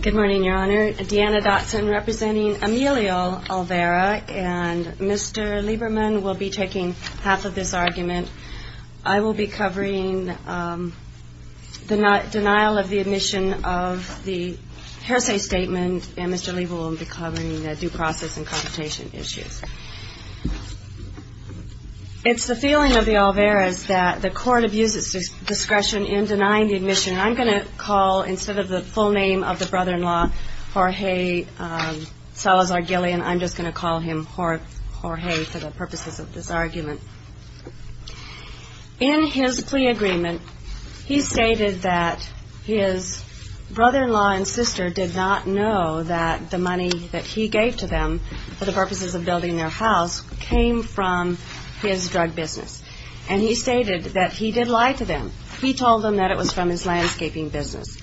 Good morning, Your Honor. Deanna Dotson representing Emilio Olvera and Mr. Lieberman will be taking half of this argument. I will be covering the denial of the admission of the hearsay statement and Mr. Lieberman will be covering the due process and competition issues. It's the feeling of the Olveras that the court abuses discretion in denying the admission. I'm going to call instead of the full name of the brother-in-law Jorge Salazar-Gillian, I'm just going to call him Jorge for the purposes of this argument. In his plea agreement, he stated that his brother-in-law and sister did not know that the money that he gave to them for the purposes of building their house came from his drug business and he stated that he did lie to them. He told them that it was from his landscaping business.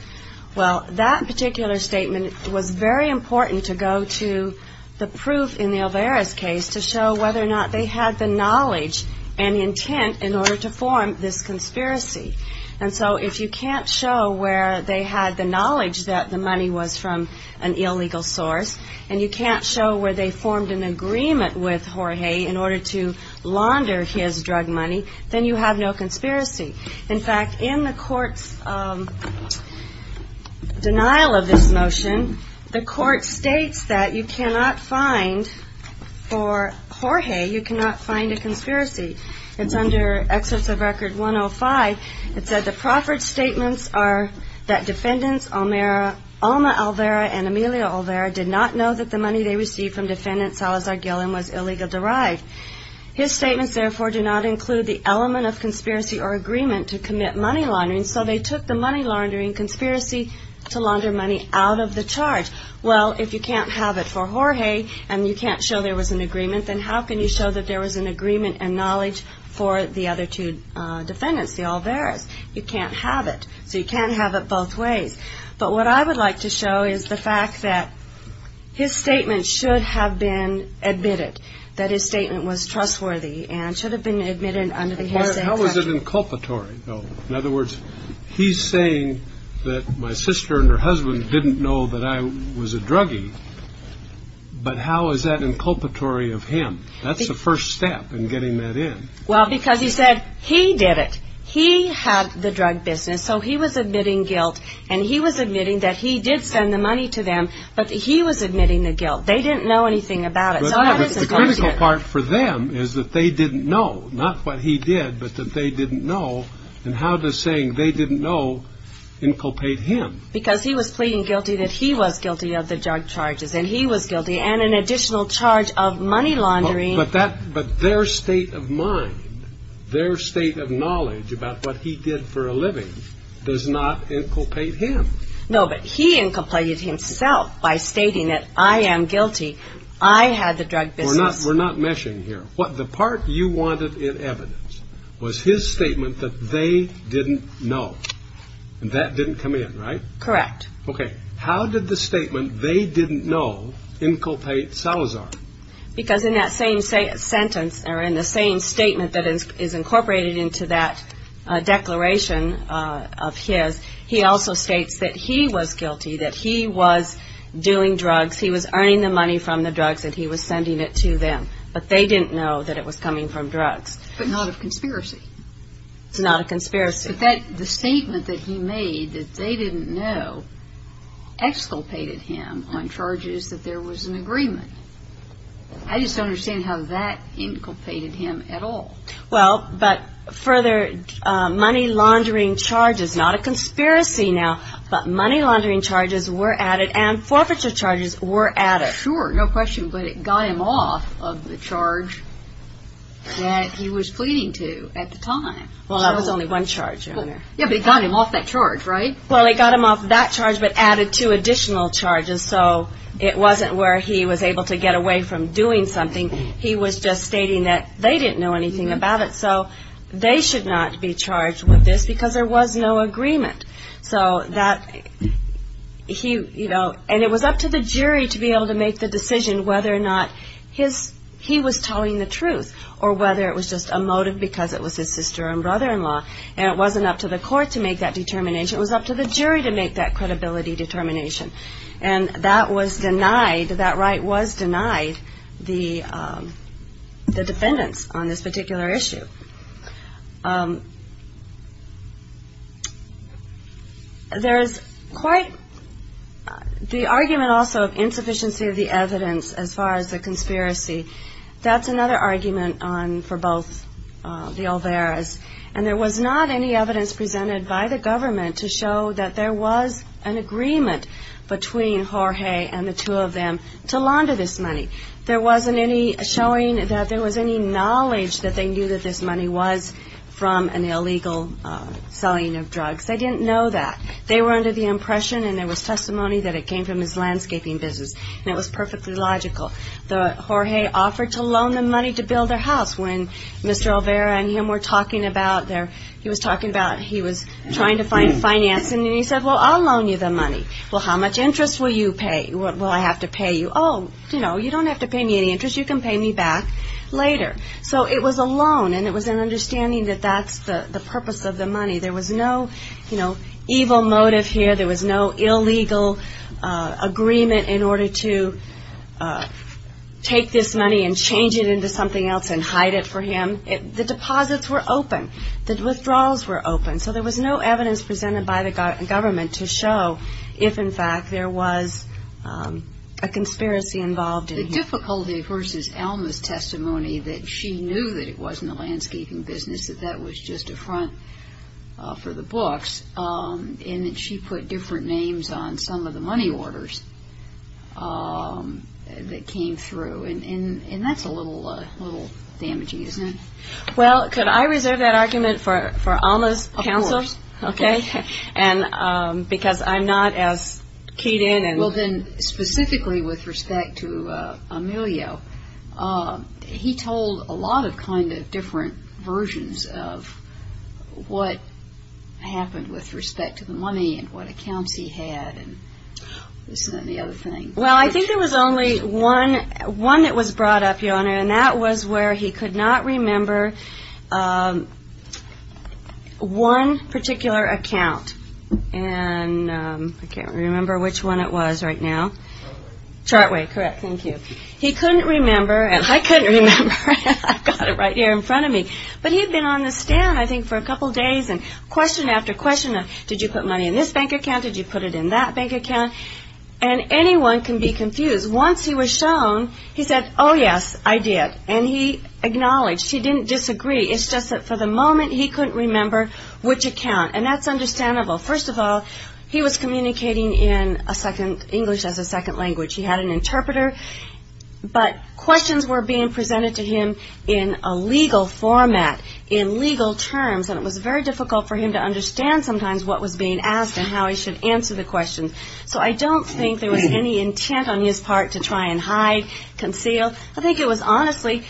Well, that particular statement was very important to go to the proof in the Olvera's case to show whether or not they had the knowledge and intent in order to form this conspiracy. And so if you can't show where they had the knowledge that the money was from an illegal source and you can't show where they formed an agreement with Jorge in order to launder his drug money, then you have no conspiracy. In fact, in the court's denial of this motion, the court states that you cannot find, for Jorge, you cannot find a conspiracy. It's under Excerpts of Record 105. It said the proffered statements are that defendants Alma Olvera and Emilia Olvera did not know that the money they received from defendant Salazar-Gillian was And so they took the money laundering conspiracy to launder money out of the charge. Well, if you can't have it for Jorge and you can't show there was an agreement, then how can you show that there was an agreement and knowledge for the other two defendants, the Olveras? You can't have it. So you can't have it both ways. But what I would like to show is the fact that his statement should have been admitted, that his statement was trustworthy and should have been admitted under the Hesed Act. How is it inculpatory, though? In other words, he's saying that my sister and her husband didn't know that I was a druggie. But how is that inculpatory of him? That's the first step in getting that in. Well, because he said he did it. He had the drug business. So he was admitting guilt and he was admitting that he did send the money to them. But he was admitting the guilt. They didn't know anything about it. The critical part for them is that they didn't know not what he did, but that they didn't know. And how does saying they didn't know inculpate him? Because he was pleading guilty that he was guilty of the drug charges and he was guilty and an additional charge of money laundering. But that but their state of mind, their state of knowledge about what he did for a living does not inculpate him. No, but he inculpated himself by stating that I am guilty. I had the drug business. We're not meshing here. What the part you wanted in evidence was his statement that they didn't know and that didn't come in. Right. Correct. Okay. How did the statement they didn't know inculpate Salazar? Because in that same sentence or in the same statement that is incorporated into that declaration of his, he also states that he was guilty, that he was doing drugs. He was earning the money from the drugs that he was sending it to them. But they didn't know that it was coming from drugs. But not of conspiracy. It's not a conspiracy. But that the statement that he made that they didn't know exculpated him on charges that there was an agreement. I just don't understand how that inculpated him at all. Well, but further money laundering charges, not a conspiracy now, but money laundering charges were added and forfeiture charges were added. Sure. No question. But it got him off of the charge that he was pleading to at the time. Well, that was only one charge. Yeah, but it got him off that charge. Right. Well, it got him off that charge, but added two additional charges. So it wasn't where he was able to get away from doing something. He was just stating that they didn't know anything about it. So they should not be charged with this because there was no agreement. So that he, you know, and it was up to the jury to be able to make the decision whether or not his he was telling the truth or whether it was just a motive because it was his sister and brother-in-law. And it wasn't up to the court to make that determination. It was up to the jury to make that credibility determination. And that was denied. That right was denied the defendants on this particular issue. There is quite the argument also of insufficiency of the evidence as far as the conspiracy. That's another argument on for both the Olveras. And there was not any evidence presented by the government to show that there was an agreement between Jorge and the two of them to launder this money. There wasn't any showing that there was any knowledge that they knew that this money was being laundered. That this money was from an illegal selling of drugs. They didn't know that. They were under the impression and there was testimony that it came from his landscaping business. And it was perfectly logical that Jorge offered to loan them money to build their house when Mr. Olvera and him were talking about their, he was talking about he was trying to find financing. And he said, well, I'll loan you the money. Well, how much interest will you pay? Will I have to pay you? Oh, you know, you don't have to pay me any interest. You can pay me back later. So it was a loan and it was an understanding that that's the purpose of the money. There was no, you know, evil motive here. There was no illegal agreement in order to take this money and change it into something else and hide it for him. The deposits were open. The withdrawals were open. So there was no evidence presented by the government to show if, in fact, there was a conspiracy involved in here. But the difficulty versus Alma's testimony that she knew that it wasn't a landscaping business, that that was just a front for the books, and that she put different names on some of the money orders that came through. And that's a little damaging, isn't it? Well, could I reserve that argument for Alma's counselors? Of course. Okay. Because I'm not as keyed in. Well, then, specifically with respect to Emilio, he told a lot of kind of different versions of what happened with respect to the money and what accounts he had and this and the other thing. Well, I think there was only one that was brought up, Your Honor, and that was where he could not remember one particular account. And I can't remember which one it was right now. Chartway. Correct. Thank you. He couldn't remember. I couldn't remember. I've got it right here in front of me. But he had been on the stand, I think, for a couple of days and question after question of, did you put money in this bank account? Did you put it in that bank account? And anyone can be confused. Once he was shown, he said, oh, yes, I did. And he acknowledged. He didn't disagree. It's just that for the moment, he couldn't remember which account. And that's understandable. First of all, he was communicating in a second English as a second language. He had an interpreter. But questions were being presented to him in a legal format, in legal terms. And it was very difficult for him to understand sometimes what was being asked and how he should answer the question. So I don't think there was any intent on his part to try and hide, conceal. I think it was honestly,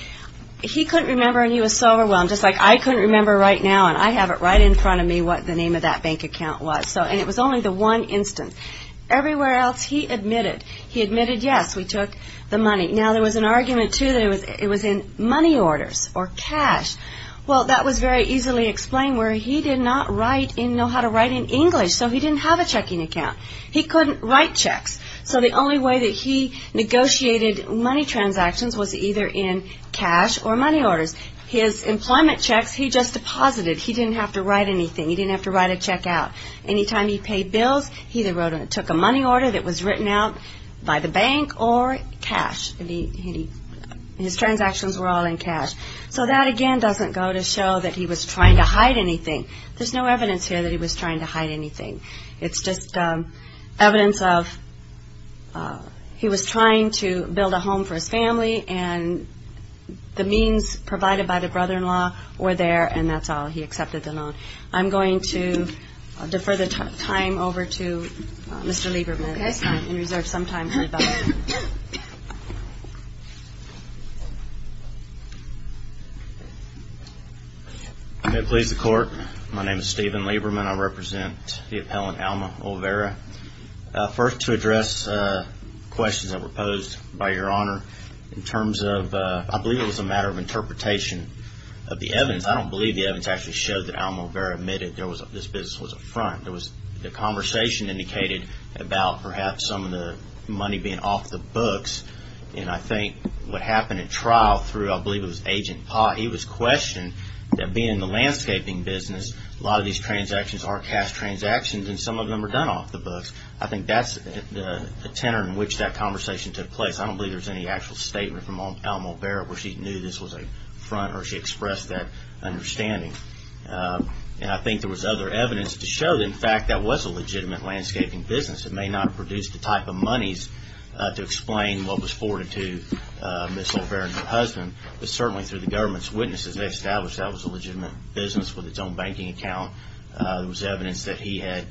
he couldn't remember and he was so overwhelmed. Just like I couldn't remember right now and I have it right in front of me what the name of that bank account was. And it was only the one instance. Everywhere else, he admitted. He admitted, yes, we took the money. Now, there was an argument, too, that it was in money orders or cash. Well, that was very easily explained where he did not know how to write in English. So he didn't have a checking account. He couldn't write checks. So the only way that he negotiated money transactions was either in cash or money orders. His employment checks, he just deposited. He didn't have to write anything. He didn't have to write a check out. Anytime he paid bills, he either took a money order that was written out by the bank or cash. His transactions were all in cash. So that, again, doesn't go to show that he was trying to hide anything. There's no evidence here that he was trying to hide anything. It's just evidence of he was trying to build a home for his family and the means provided by the brother-in-law were there and that's all. He accepted the loan. I'm going to defer the time over to Mr. Lieberman. I'm going to please the court. My name is Steven Lieberman. I represent the appellant Alma Olvera. First, to address questions that were posed by Your Honor in terms of, I believe it was a matter of interpretation of the evidence. I don't believe the evidence actually showed that Alma Olvera admitted this business was a front. There was a conversation indicated about perhaps some of the money being off the books and I think what happened in trial through, I believe it was Agent Pott, he was questioned that being the landscaping business, a lot of these transactions are cash transactions and some of them are done off the books. I think that's the tenor in which that conversation took place. I don't believe there's any actual statement from Alma Olvera where she knew this was a front or she expressed that understanding. I think there was other evidence to show that, in fact, that was a legitimate landscaping business. It may not have produced the type of monies to explain what was forwarded to Ms. Olvera and her husband, but certainly through the government's witnesses, they established that was a legitimate business with its own banking account. There was evidence that he had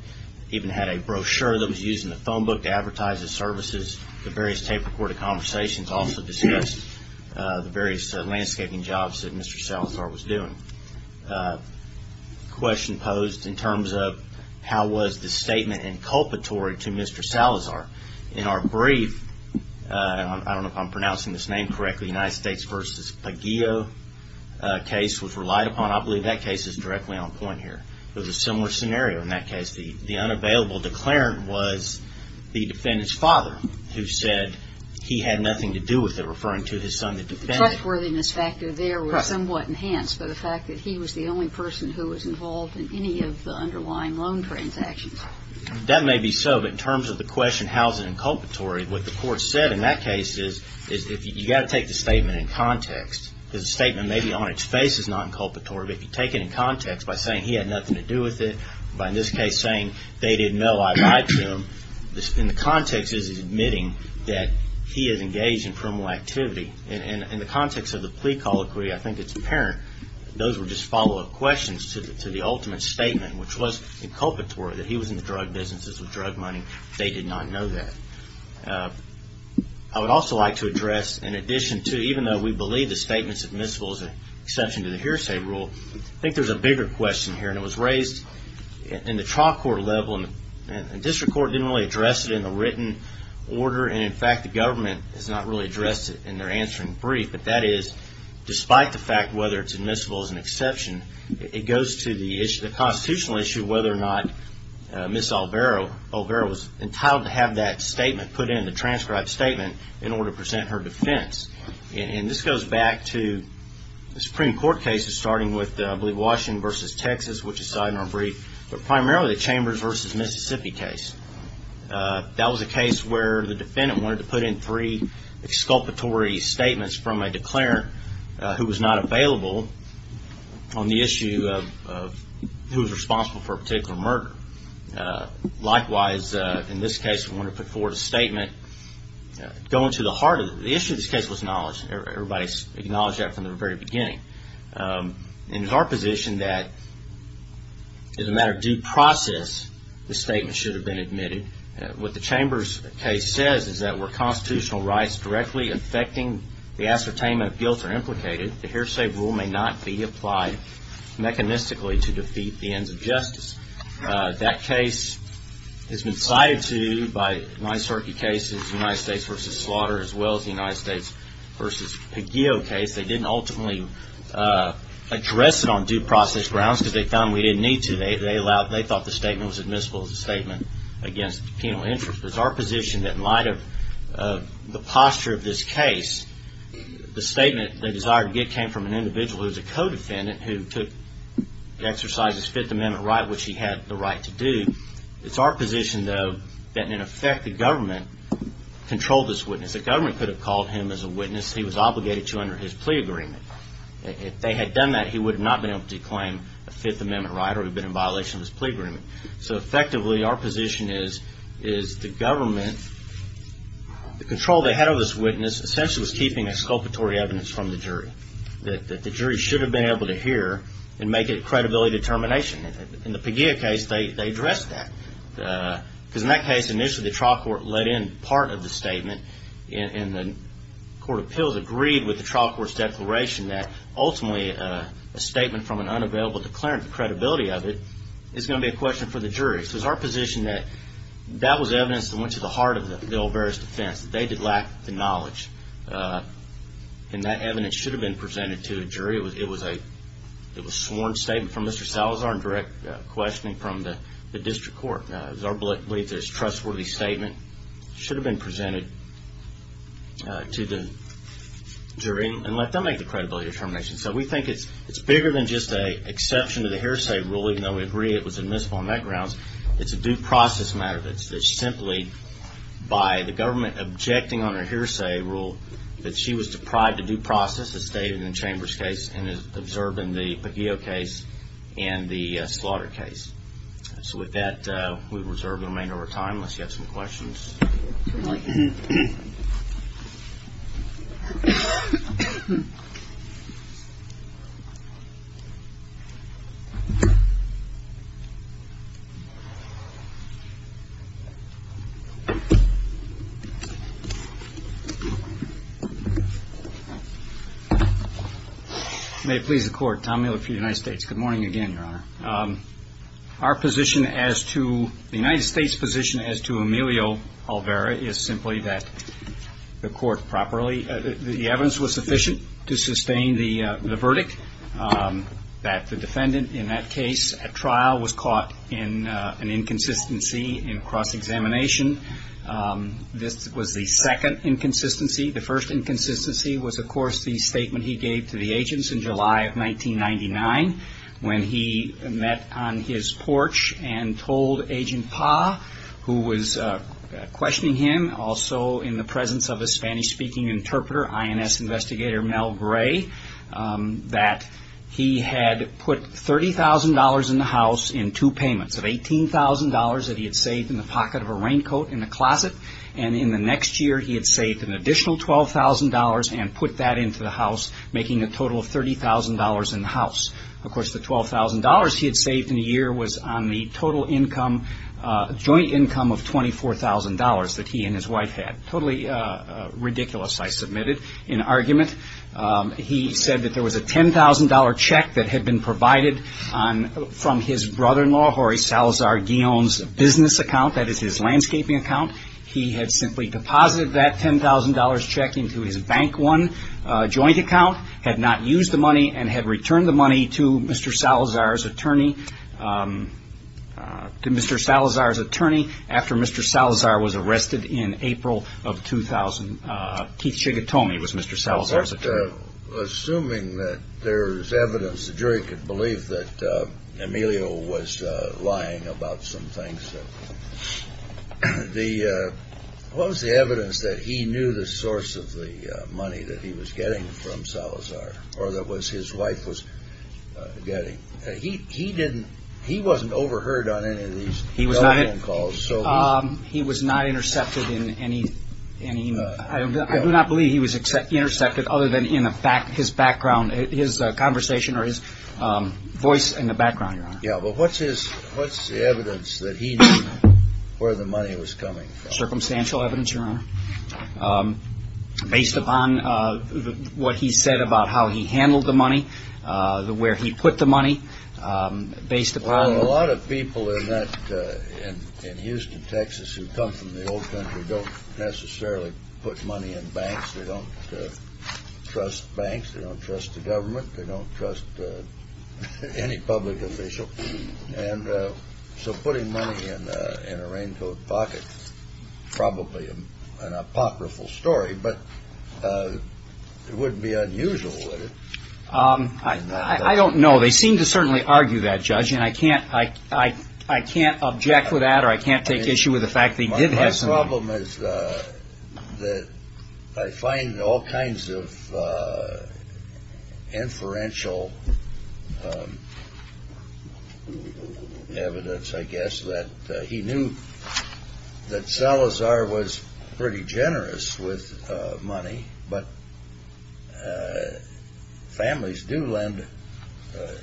even had a brochure that was used in the phone book to advertise his services. The various tape recorded conversations also discussed the various landscaping jobs that Mr. Salazar was doing. There was another question posed in terms of how was the statement inculpatory to Mr. Salazar. In our brief, I don't know if I'm pronouncing this name correctly, the United States v. Pagillo case was relied upon. I believe that case is directly on point here. There was a similar scenario in that case. The unavailable declarant was the defendant's father who said he had nothing to do with it, referring to his son, the defendant. And the trustworthiness factor there was somewhat enhanced by the fact that he was the only person who was involved in any of the underlying loan transactions. That may be so, but in terms of the question how is it inculpatory, what the court said in that case is you've got to take the statement in context, because the statement may be on its face as not inculpatory, but if you take it in context by saying he had nothing to do with it, by in this case saying they didn't know I lied to him, in the context is admitting that he is engaged in criminal activity. In the context of the plea call inquiry, I think it's apparent those were just follow-up questions to the ultimate statement, which was inculpatory, that he was in the drug businesses with drug money. They did not know that. I would also like to address, in addition to, even though we believe the statement is admissible as an exception to the hearsay rule, I think there's a bigger question here. And it was raised in the trial court level, and the district court didn't really address it in the written order, and in fact the government has not really addressed it in their answering brief. But that is, despite the fact whether it's admissible as an exception, it goes to the constitutional issue of whether or not Ms. Alvaro was entitled to have that statement put in, the transcribed statement, in order to present her defense. And this goes back to the Supreme Court cases, starting with, I believe, Washington v. Texas, which is cited in our brief, but primarily the Chambers v. Mississippi case. That was a case where the defendant wanted to put in three exculpatory statements from a declarant who was not available on the issue of who was responsible for a particular murder. Likewise, in this case, we wanted to put forward a statement going to the heart of it. The issue of this case was knowledge. Everybody acknowledged that from the very beginning. And it's our position that, as a matter of due process, the statement should have been admitted. What the Chambers case says is that where constitutional rights directly affecting the ascertainment of guilt are implicated, the hearsay rule may not be applied mechanistically to defeat the ends of justice. That case has been cited, too, by Nyserke cases, the United States v. Slaughter, as well as the United States v. Peguio case. They didn't ultimately address it on due process grounds because they found we didn't need to. They thought the statement was admissible as a statement against penal interest. It's our position that in light of the posture of this case, the statement they desired to get came from an individual who was a co-defendant who took exercise of his Fifth Amendment right, which he had the right to do. It's our position, though, that, in effect, the government controlled this witness. The government could have called him as a witness he was obligated to under his plea agreement. If they had done that, he would not have been able to claim a Fifth Amendment right or he would have been in violation of his plea agreement. So, effectively, our position is the government, the control they had over this witness, essentially was keeping exculpatory evidence from the jury that the jury should have been able to hear and make it a credibility determination. In the Peguio case, they addressed that because, in that case, initially, the trial court let in part of the statement, and the court of appeals agreed with the trial court's declaration that, ultimately, a statement from an unavailable declarant, the credibility of it, is going to be a question for the jury. So, it's our position that that was evidence that went to the heart of the Olvera's defense, that they did lack the knowledge, and that evidence should have been presented to the jury. It was a sworn statement from Mr. Salazar and direct questioning from the district court. It's our belief that it's a trustworthy statement. It should have been presented to the jury and let them make the credibility determination. So, we think it's bigger than just an exception to the hearsay rule, even though we agree it was admissible on that grounds. It's a due process matter that's simply, by the government objecting on her hearsay rule, that she was deprived of due process, as stated in the Chambers case, and as observed in the Peguio case and the Slaughter case. So, with that, we reserve the remainder of our time unless you have some questions. All right. May it please the Court. Tom Miller for the United States. Good morning again, Your Honor. Our position as to the United States' position as to Emilio Olvera is simply that the evidence was sufficient to sustain the verdict, that the defendant in that case at trial was caught in an inconsistency in cross-examination. This was the second inconsistency. The first inconsistency was, of course, the statement he gave to the agents in July of 1999 when he met on his porch and told Agent Pa, who was questioning him, also in the presence of a Spanish-speaking interpreter, INS investigator Mel Gray, that he had put $30,000 in the house in two payments, of $18,000 that he had saved in the pocket of a raincoat in the closet, and in the next year he had saved an additional $12,000 and put that into the house, making a total of $30,000 in the house. Of course, the $12,000 he had saved in the year was on the total income, joint income of $24,000 that he and his wife had. Totally ridiculous, I submitted, in argument. He said that there was a $10,000 check that had been provided from his brother-in-law, Jorge Salazar-Guillon's business account, that is his landscaping account. He had simply deposited that $10,000 check into his Bank One joint account, had not used the money, and had returned the money to Mr. Salazar's attorney after Mr. Salazar was arrested in April of 2000. Keith Shigatomi was Mr. Salazar's attorney. Assuming that there is evidence, the jury could believe that Emilio was lying about some things, what was the evidence that he knew the source of the money that he was getting from Salazar, or that his wife was getting? He wasn't overheard on any of these telephone calls. He was not intercepted in any, I do not believe he was intercepted other than in his background, his conversation or his voice in the background, Your Honor. Yeah, but what's the evidence that he knew where the money was coming from? Circumstantial evidence, Your Honor. Based upon what he said about how he handled the money, where he put the money, based upon... People in Houston, Texas who come from the old country don't necessarily put money in banks. They don't trust banks. They don't trust the government. They don't trust any public official. And so putting money in a raincoat pocket is probably an apocryphal story, but it wouldn't be unusual, would it? I don't know. Well, they seem to certainly argue that, Judge, and I can't object to that or I can't take issue with the fact that he did have some money. My problem is that I find all kinds of inferential evidence, I guess, that he knew that Salazar was pretty generous with money, but families do lend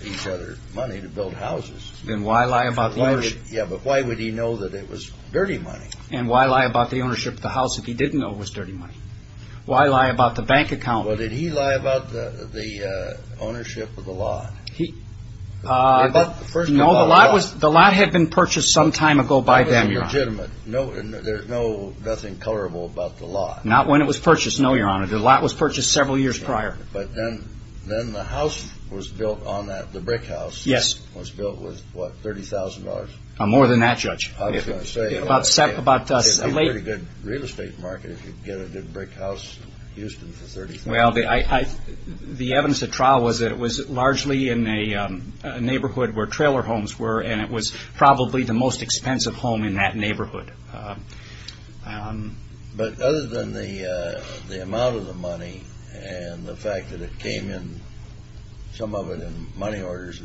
each other money to build houses. Then why lie about the ownership? Yeah, but why would he know that it was dirty money? And why lie about the ownership of the house if he didn't know it was dirty money? Why lie about the bank account? Well, did he lie about the ownership of the lot? No, the lot had been purchased some time ago by them, Your Honor. That was illegitimate. There's nothing colorable about the lot. Not when it was purchased, no, Your Honor. The lot was purchased several years prior. But then the house was built on that, the brick house, was built with, what, $30,000? More than that, Judge. I was going to say, it would be a pretty good real estate market if you could get a good brick house in Houston for $30,000. Well, the evidence at trial was that it was largely in a neighborhood where trailer homes were, and it was probably the most expensive home in that neighborhood. But other than the amount of the money and the fact that it came in, some of it in money orders,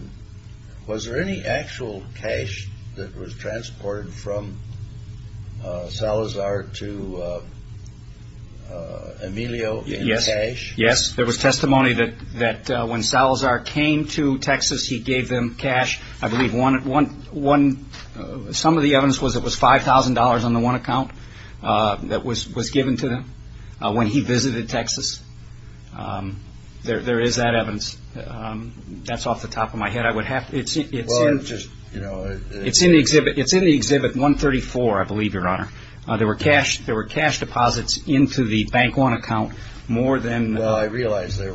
was there any actual cash that was transported from Salazar to Emilio in cash? Yes. There was testimony that when Salazar came to Texas, he gave them cash. I believe some of the evidence was it was $5,000 on the one account that was given to them when he visited Texas. There is that evidence. That's off the top of my head. It's in the Exhibit 134, I believe, Your Honor. There were cash deposits into the Bank One account more than— Yes. There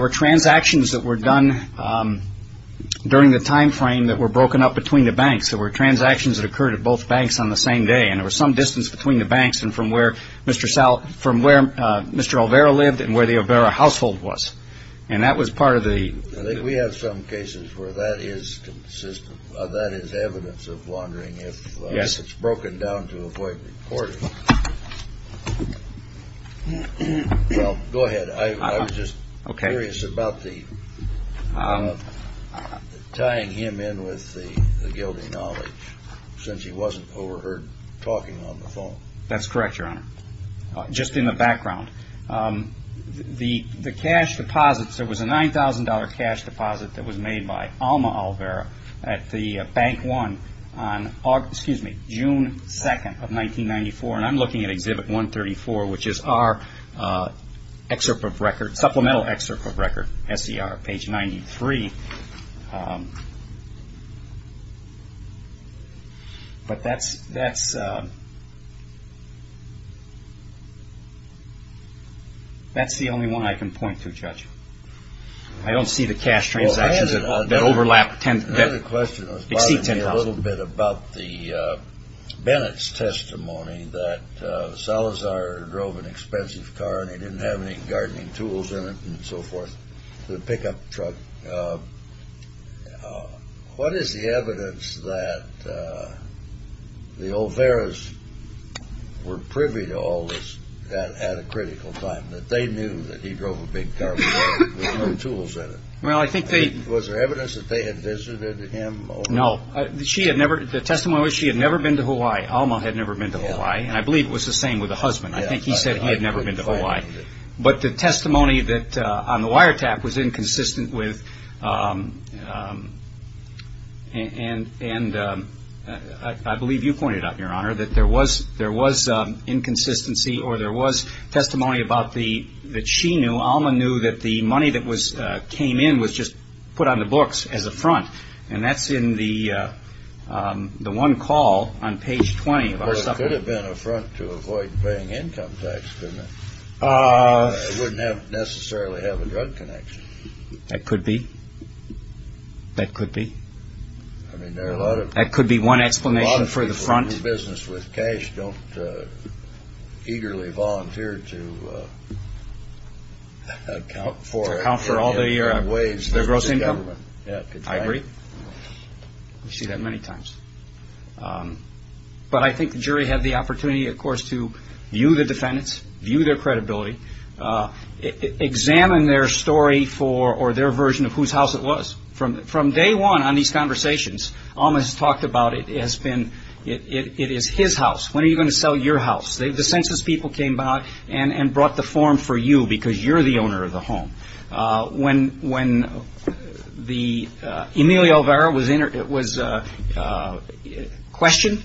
were transactions that were done during the time frame that were broken up between the banks. There were transactions that occurred at both banks on the same day, and there was some distance between the banks and from where Mr. Olvera lived and where the Olvera household was. And that was part of the— Well, go ahead. I was just curious about tying him in with the guilty knowledge, since he wasn't overheard talking on the phone. That's correct, Your Honor. Just in the background, the cash deposits, there was a $9,000 cash deposit that was made by Alma Olvera at the Bank One on June 2nd of 1994, and I'm looking at Exhibit 134, which is our supplemental excerpt of record, S.E.R., page 93. But that's the only one I can point to, Judge. I don't see the cash transactions that exceed $10,000. My question was bothering me a little bit about Bennett's testimony that Salazar drove an expensive car and he didn't have any gardening tools in it and so forth to pick up the truck. What is the evidence that the Olveras were privy to all this at a critical time, that they knew that he drove a big car, but there were no tools in it? Was there evidence that they had visited him? No. The testimony was she had never been to Hawaii. Alma had never been to Hawaii, and I believe it was the same with the husband. I think he said he had never been to Hawaii. But the testimony on the wiretap was inconsistent with, and I believe you pointed out, Your Honor, that there was inconsistency or there was testimony that she knew, Alma knew, that the money that came in was just put on the books as a front, and that's in the one call on page 20. Well, it could have been a front to avoid paying income tax, couldn't it? It wouldn't necessarily have a drug connection. That could be. That could be. I mean, there are a lot of people who do business with cash and just don't eagerly volunteer to account for it. To account for all the gross income? I agree. I see that many times. But I think the jury had the opportunity, of course, to view the defendants, view their credibility, examine their story or their version of whose house it was. From day one on these conversations, Alma has talked about it has been, it is his house. When are you going to sell your house? The census people came by and brought the form for you because you're the owner of the home. When Emilio Vera was questioned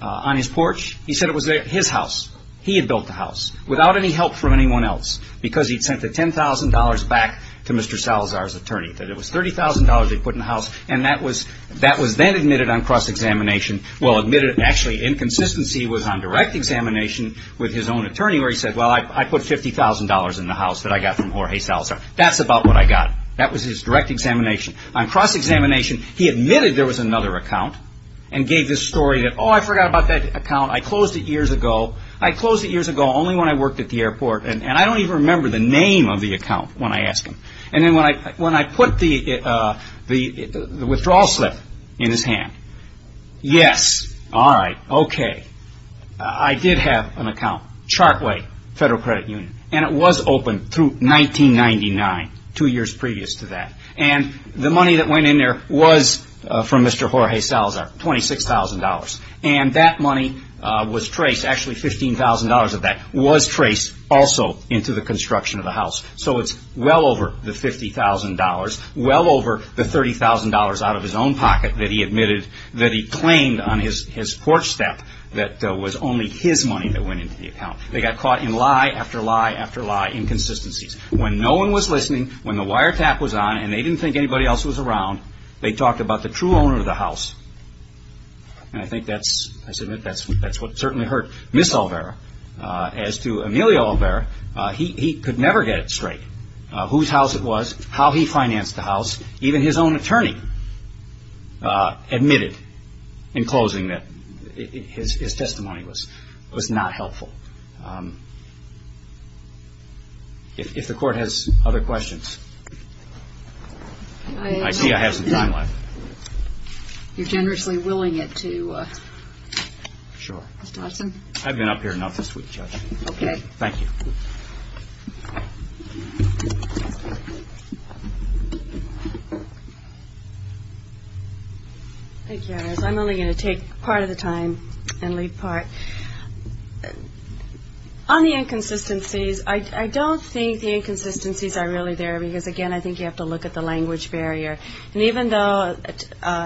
on his porch, he said it was his house. He had built the house without any help from anyone else because he'd sent the $10,000 back to Mr. Salazar's attorney, that it was $30,000 they put in the house, and that was then admitted on cross-examination. Well, admitted, actually, inconsistency was on direct examination with his own attorney where he said, well, I put $50,000 in the house that I got from Jorge Salazar. That's about what I got. That was his direct examination. On cross-examination, he admitted there was another account and gave this story that, oh, I forgot about that account. I closed it years ago. I closed it years ago only when I worked at the airport, and I don't even remember the name of the account when I asked him. Then when I put the withdrawal slip in his hand, yes, all right, okay, I did have an account, Chartway Federal Credit Union, and it was open through 1999, two years previous to that. The money that went in there was from Mr. Jorge Salazar, $26,000, and that money was traced. Actually, $15,000 of that was traced also into the construction of the house. So it's well over the $50,000, well over the $30,000 out of his own pocket that he admitted that he claimed on his porch step that it was only his money that went into the account. They got caught in lie after lie after lie, inconsistencies. When no one was listening, when the wiretap was on, and they didn't think anybody else was around, they talked about the true owner of the house. And I think that's, I submit, that's what certainly hurt Ms. Olvera. As to Emilio Olvera, he could never get it straight, whose house it was, how he financed the house. Even his own attorney admitted in closing that his testimony was not helpful. If the Court has other questions. I see I have some time left. You're generously willing it to Mr. Hudson? I've been up here enough this week, Judge. Okay. Thank you. Thank you. I'm only going to take part of the time and leave part. On the inconsistencies, I don't think the inconsistencies are really there because, again, I think you have to look at the language barrier. And even though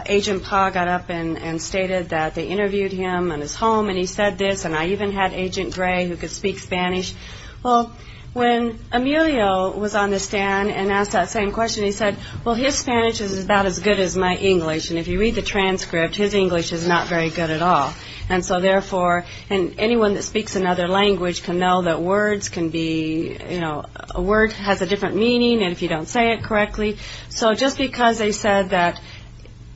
Agent Pa got up and stated that they interviewed him in his home and he said this, and I even had Agent Gray who could speak Spanish. Well, when Emilio was on the stand and asked that same question, he said, well, his Spanish is about as good as my English, and if you read the transcript, his English is not very good at all. And so, therefore, anyone that speaks another language can know that words can be, you know, a word has a different meaning if you don't say it correctly. So just because they said that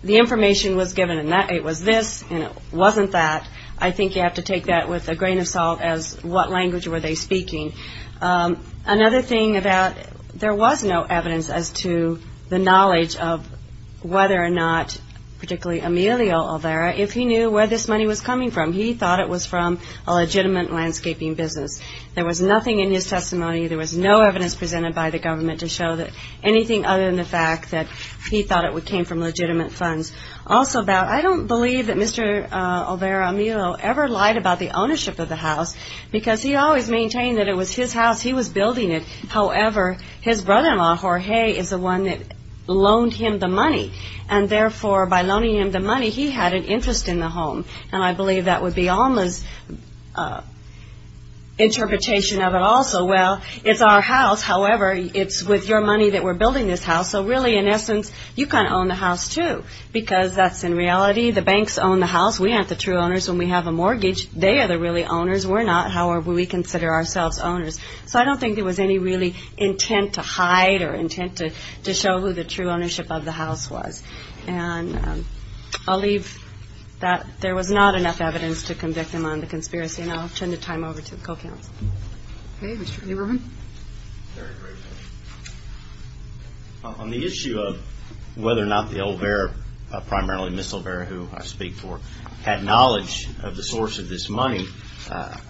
the information was given and it was this and it wasn't that, I think you have to take that with a grain of salt as what language were they speaking. Another thing about there was no evidence as to the knowledge of whether or not particularly Emilio Olvera, if he knew where this money was coming from. He thought it was from a legitimate landscaping business. There was nothing in his testimony, there was no evidence presented by the government to show that anything other than the fact that he thought it came from legitimate funds. Also, I don't believe that Mr. Olvera Emilio ever lied about the ownership of the house because he always maintained that it was his house, he was building it. However, his brother-in-law, Jorge, is the one that loaned him the money, and, therefore, by loaning him the money, he had an interest in the home, and I believe that would be Alma's interpretation of it also. Well, it's our house, however, it's with your money that we're building this house, so really, in essence, you can't own the house, too, because that's in reality. The banks own the house. We aren't the true owners. When we have a mortgage, they are the really owners. We're not. However, we consider ourselves owners. So I don't think there was any really intent to hide or intent to show who the true ownership of the house was. And I'll leave that. There was not enough evidence to convict him on the conspiracy, and I'll turn the time over to the co-counsel. Okay. Mr. Lieberman? Very briefly. On the issue of whether or not the Olvera, primarily Ms. Olvera, who I speak for, had knowledge of the source of this money, I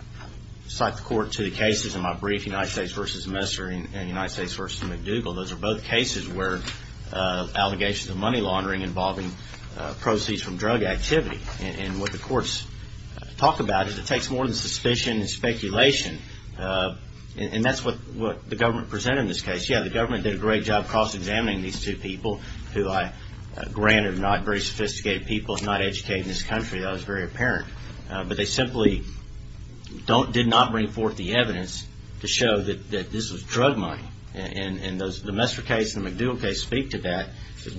cite the Court to the cases in my brief, United States v. Messer and United States v. McDougall. Those are both cases where allegations of money laundering involving proceeds from drug activity, and what the courts talk about is it takes more than suspicion and speculation. And that's what the government presented in this case. Yeah, the government did a great job cross-examining these two people, who I grant are not very sophisticated people, not educated in this country. That was very apparent. But they simply did not bring forth the evidence to show that this was drug money. And the Messer case and the McDougall case speak to that,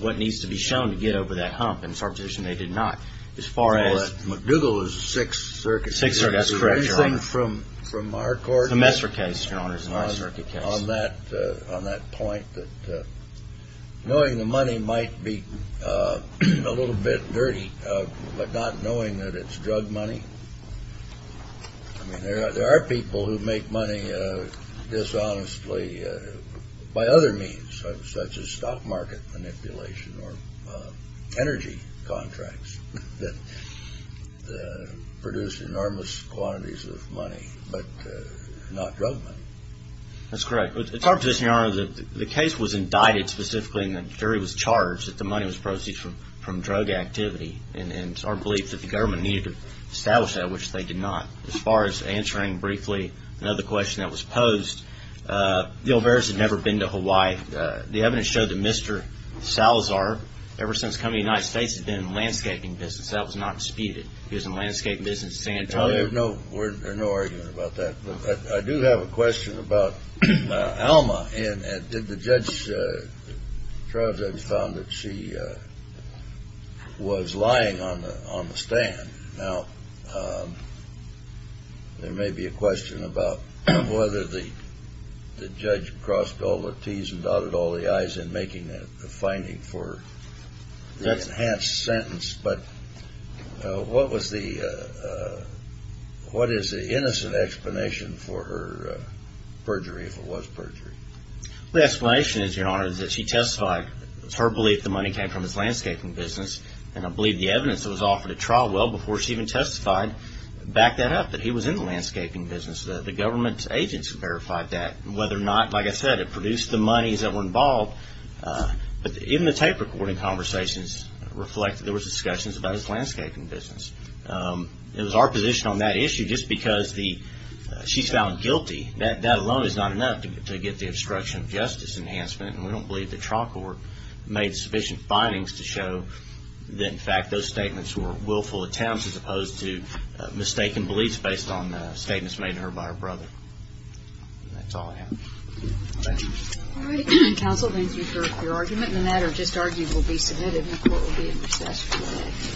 what needs to be shown to get over that hump. And it's our position they did not. McDougall is a Sixth Circuit case. Sixth Circuit, that's correct, Your Honor. Is there anything from our court? It's a Messer case, Your Honor. It's a Messer case. On that point, that knowing the money might be a little bit dirty, but not knowing that it's drug money. I mean, there are people who make money dishonestly by other means, such as stock market manipulation or energy contracts that produce enormous quantities of money, but not drug money. That's correct. It's our position, Your Honor, that the case was indicted specifically and the jury was charged that the money was proceeds from drug activity. And it's our belief that the government needed to establish that, which they did not. As far as answering briefly another question that was posed, the Olveras had never been to Hawaii. The evidence showed that Mr. Salazar, ever since coming to the United States, had been in the landscaping business. That was not disputed. He was in the landscaping business in San Antonio. No, there's no argument about that. I do have a question about Alma. The judge found that she was lying on the stand. Now, there may be a question about whether the judge crossed all the T's and dotted all the I's in making the finding for the enhanced sentence. But what is the innocent explanation for her perjury, if it was perjury? The explanation is, Your Honor, that she testified. It was her belief the money came from his landscaping business. And I believe the evidence that was offered at trial well before she even testified backed that up, that he was in the landscaping business. The government's agents verified that. Whether or not, like I said, it produced the monies that were involved. But even the tape recording conversations reflect that there were discussions about his landscaping business. It was our position on that issue, just because she's found guilty, that alone is not enough to get the obstruction of justice enhancement. And we don't believe the trial court made sufficient findings to show that, in fact, those statements were willful attempts as opposed to mistaken beliefs based on statements made to her by her brother. And that's all I have. Thank you. All right. Counsel, thank you for your argument. The matter just argued will be submitted, and the court will be in recess. Thank you. Thank you. Thank you. Thank you.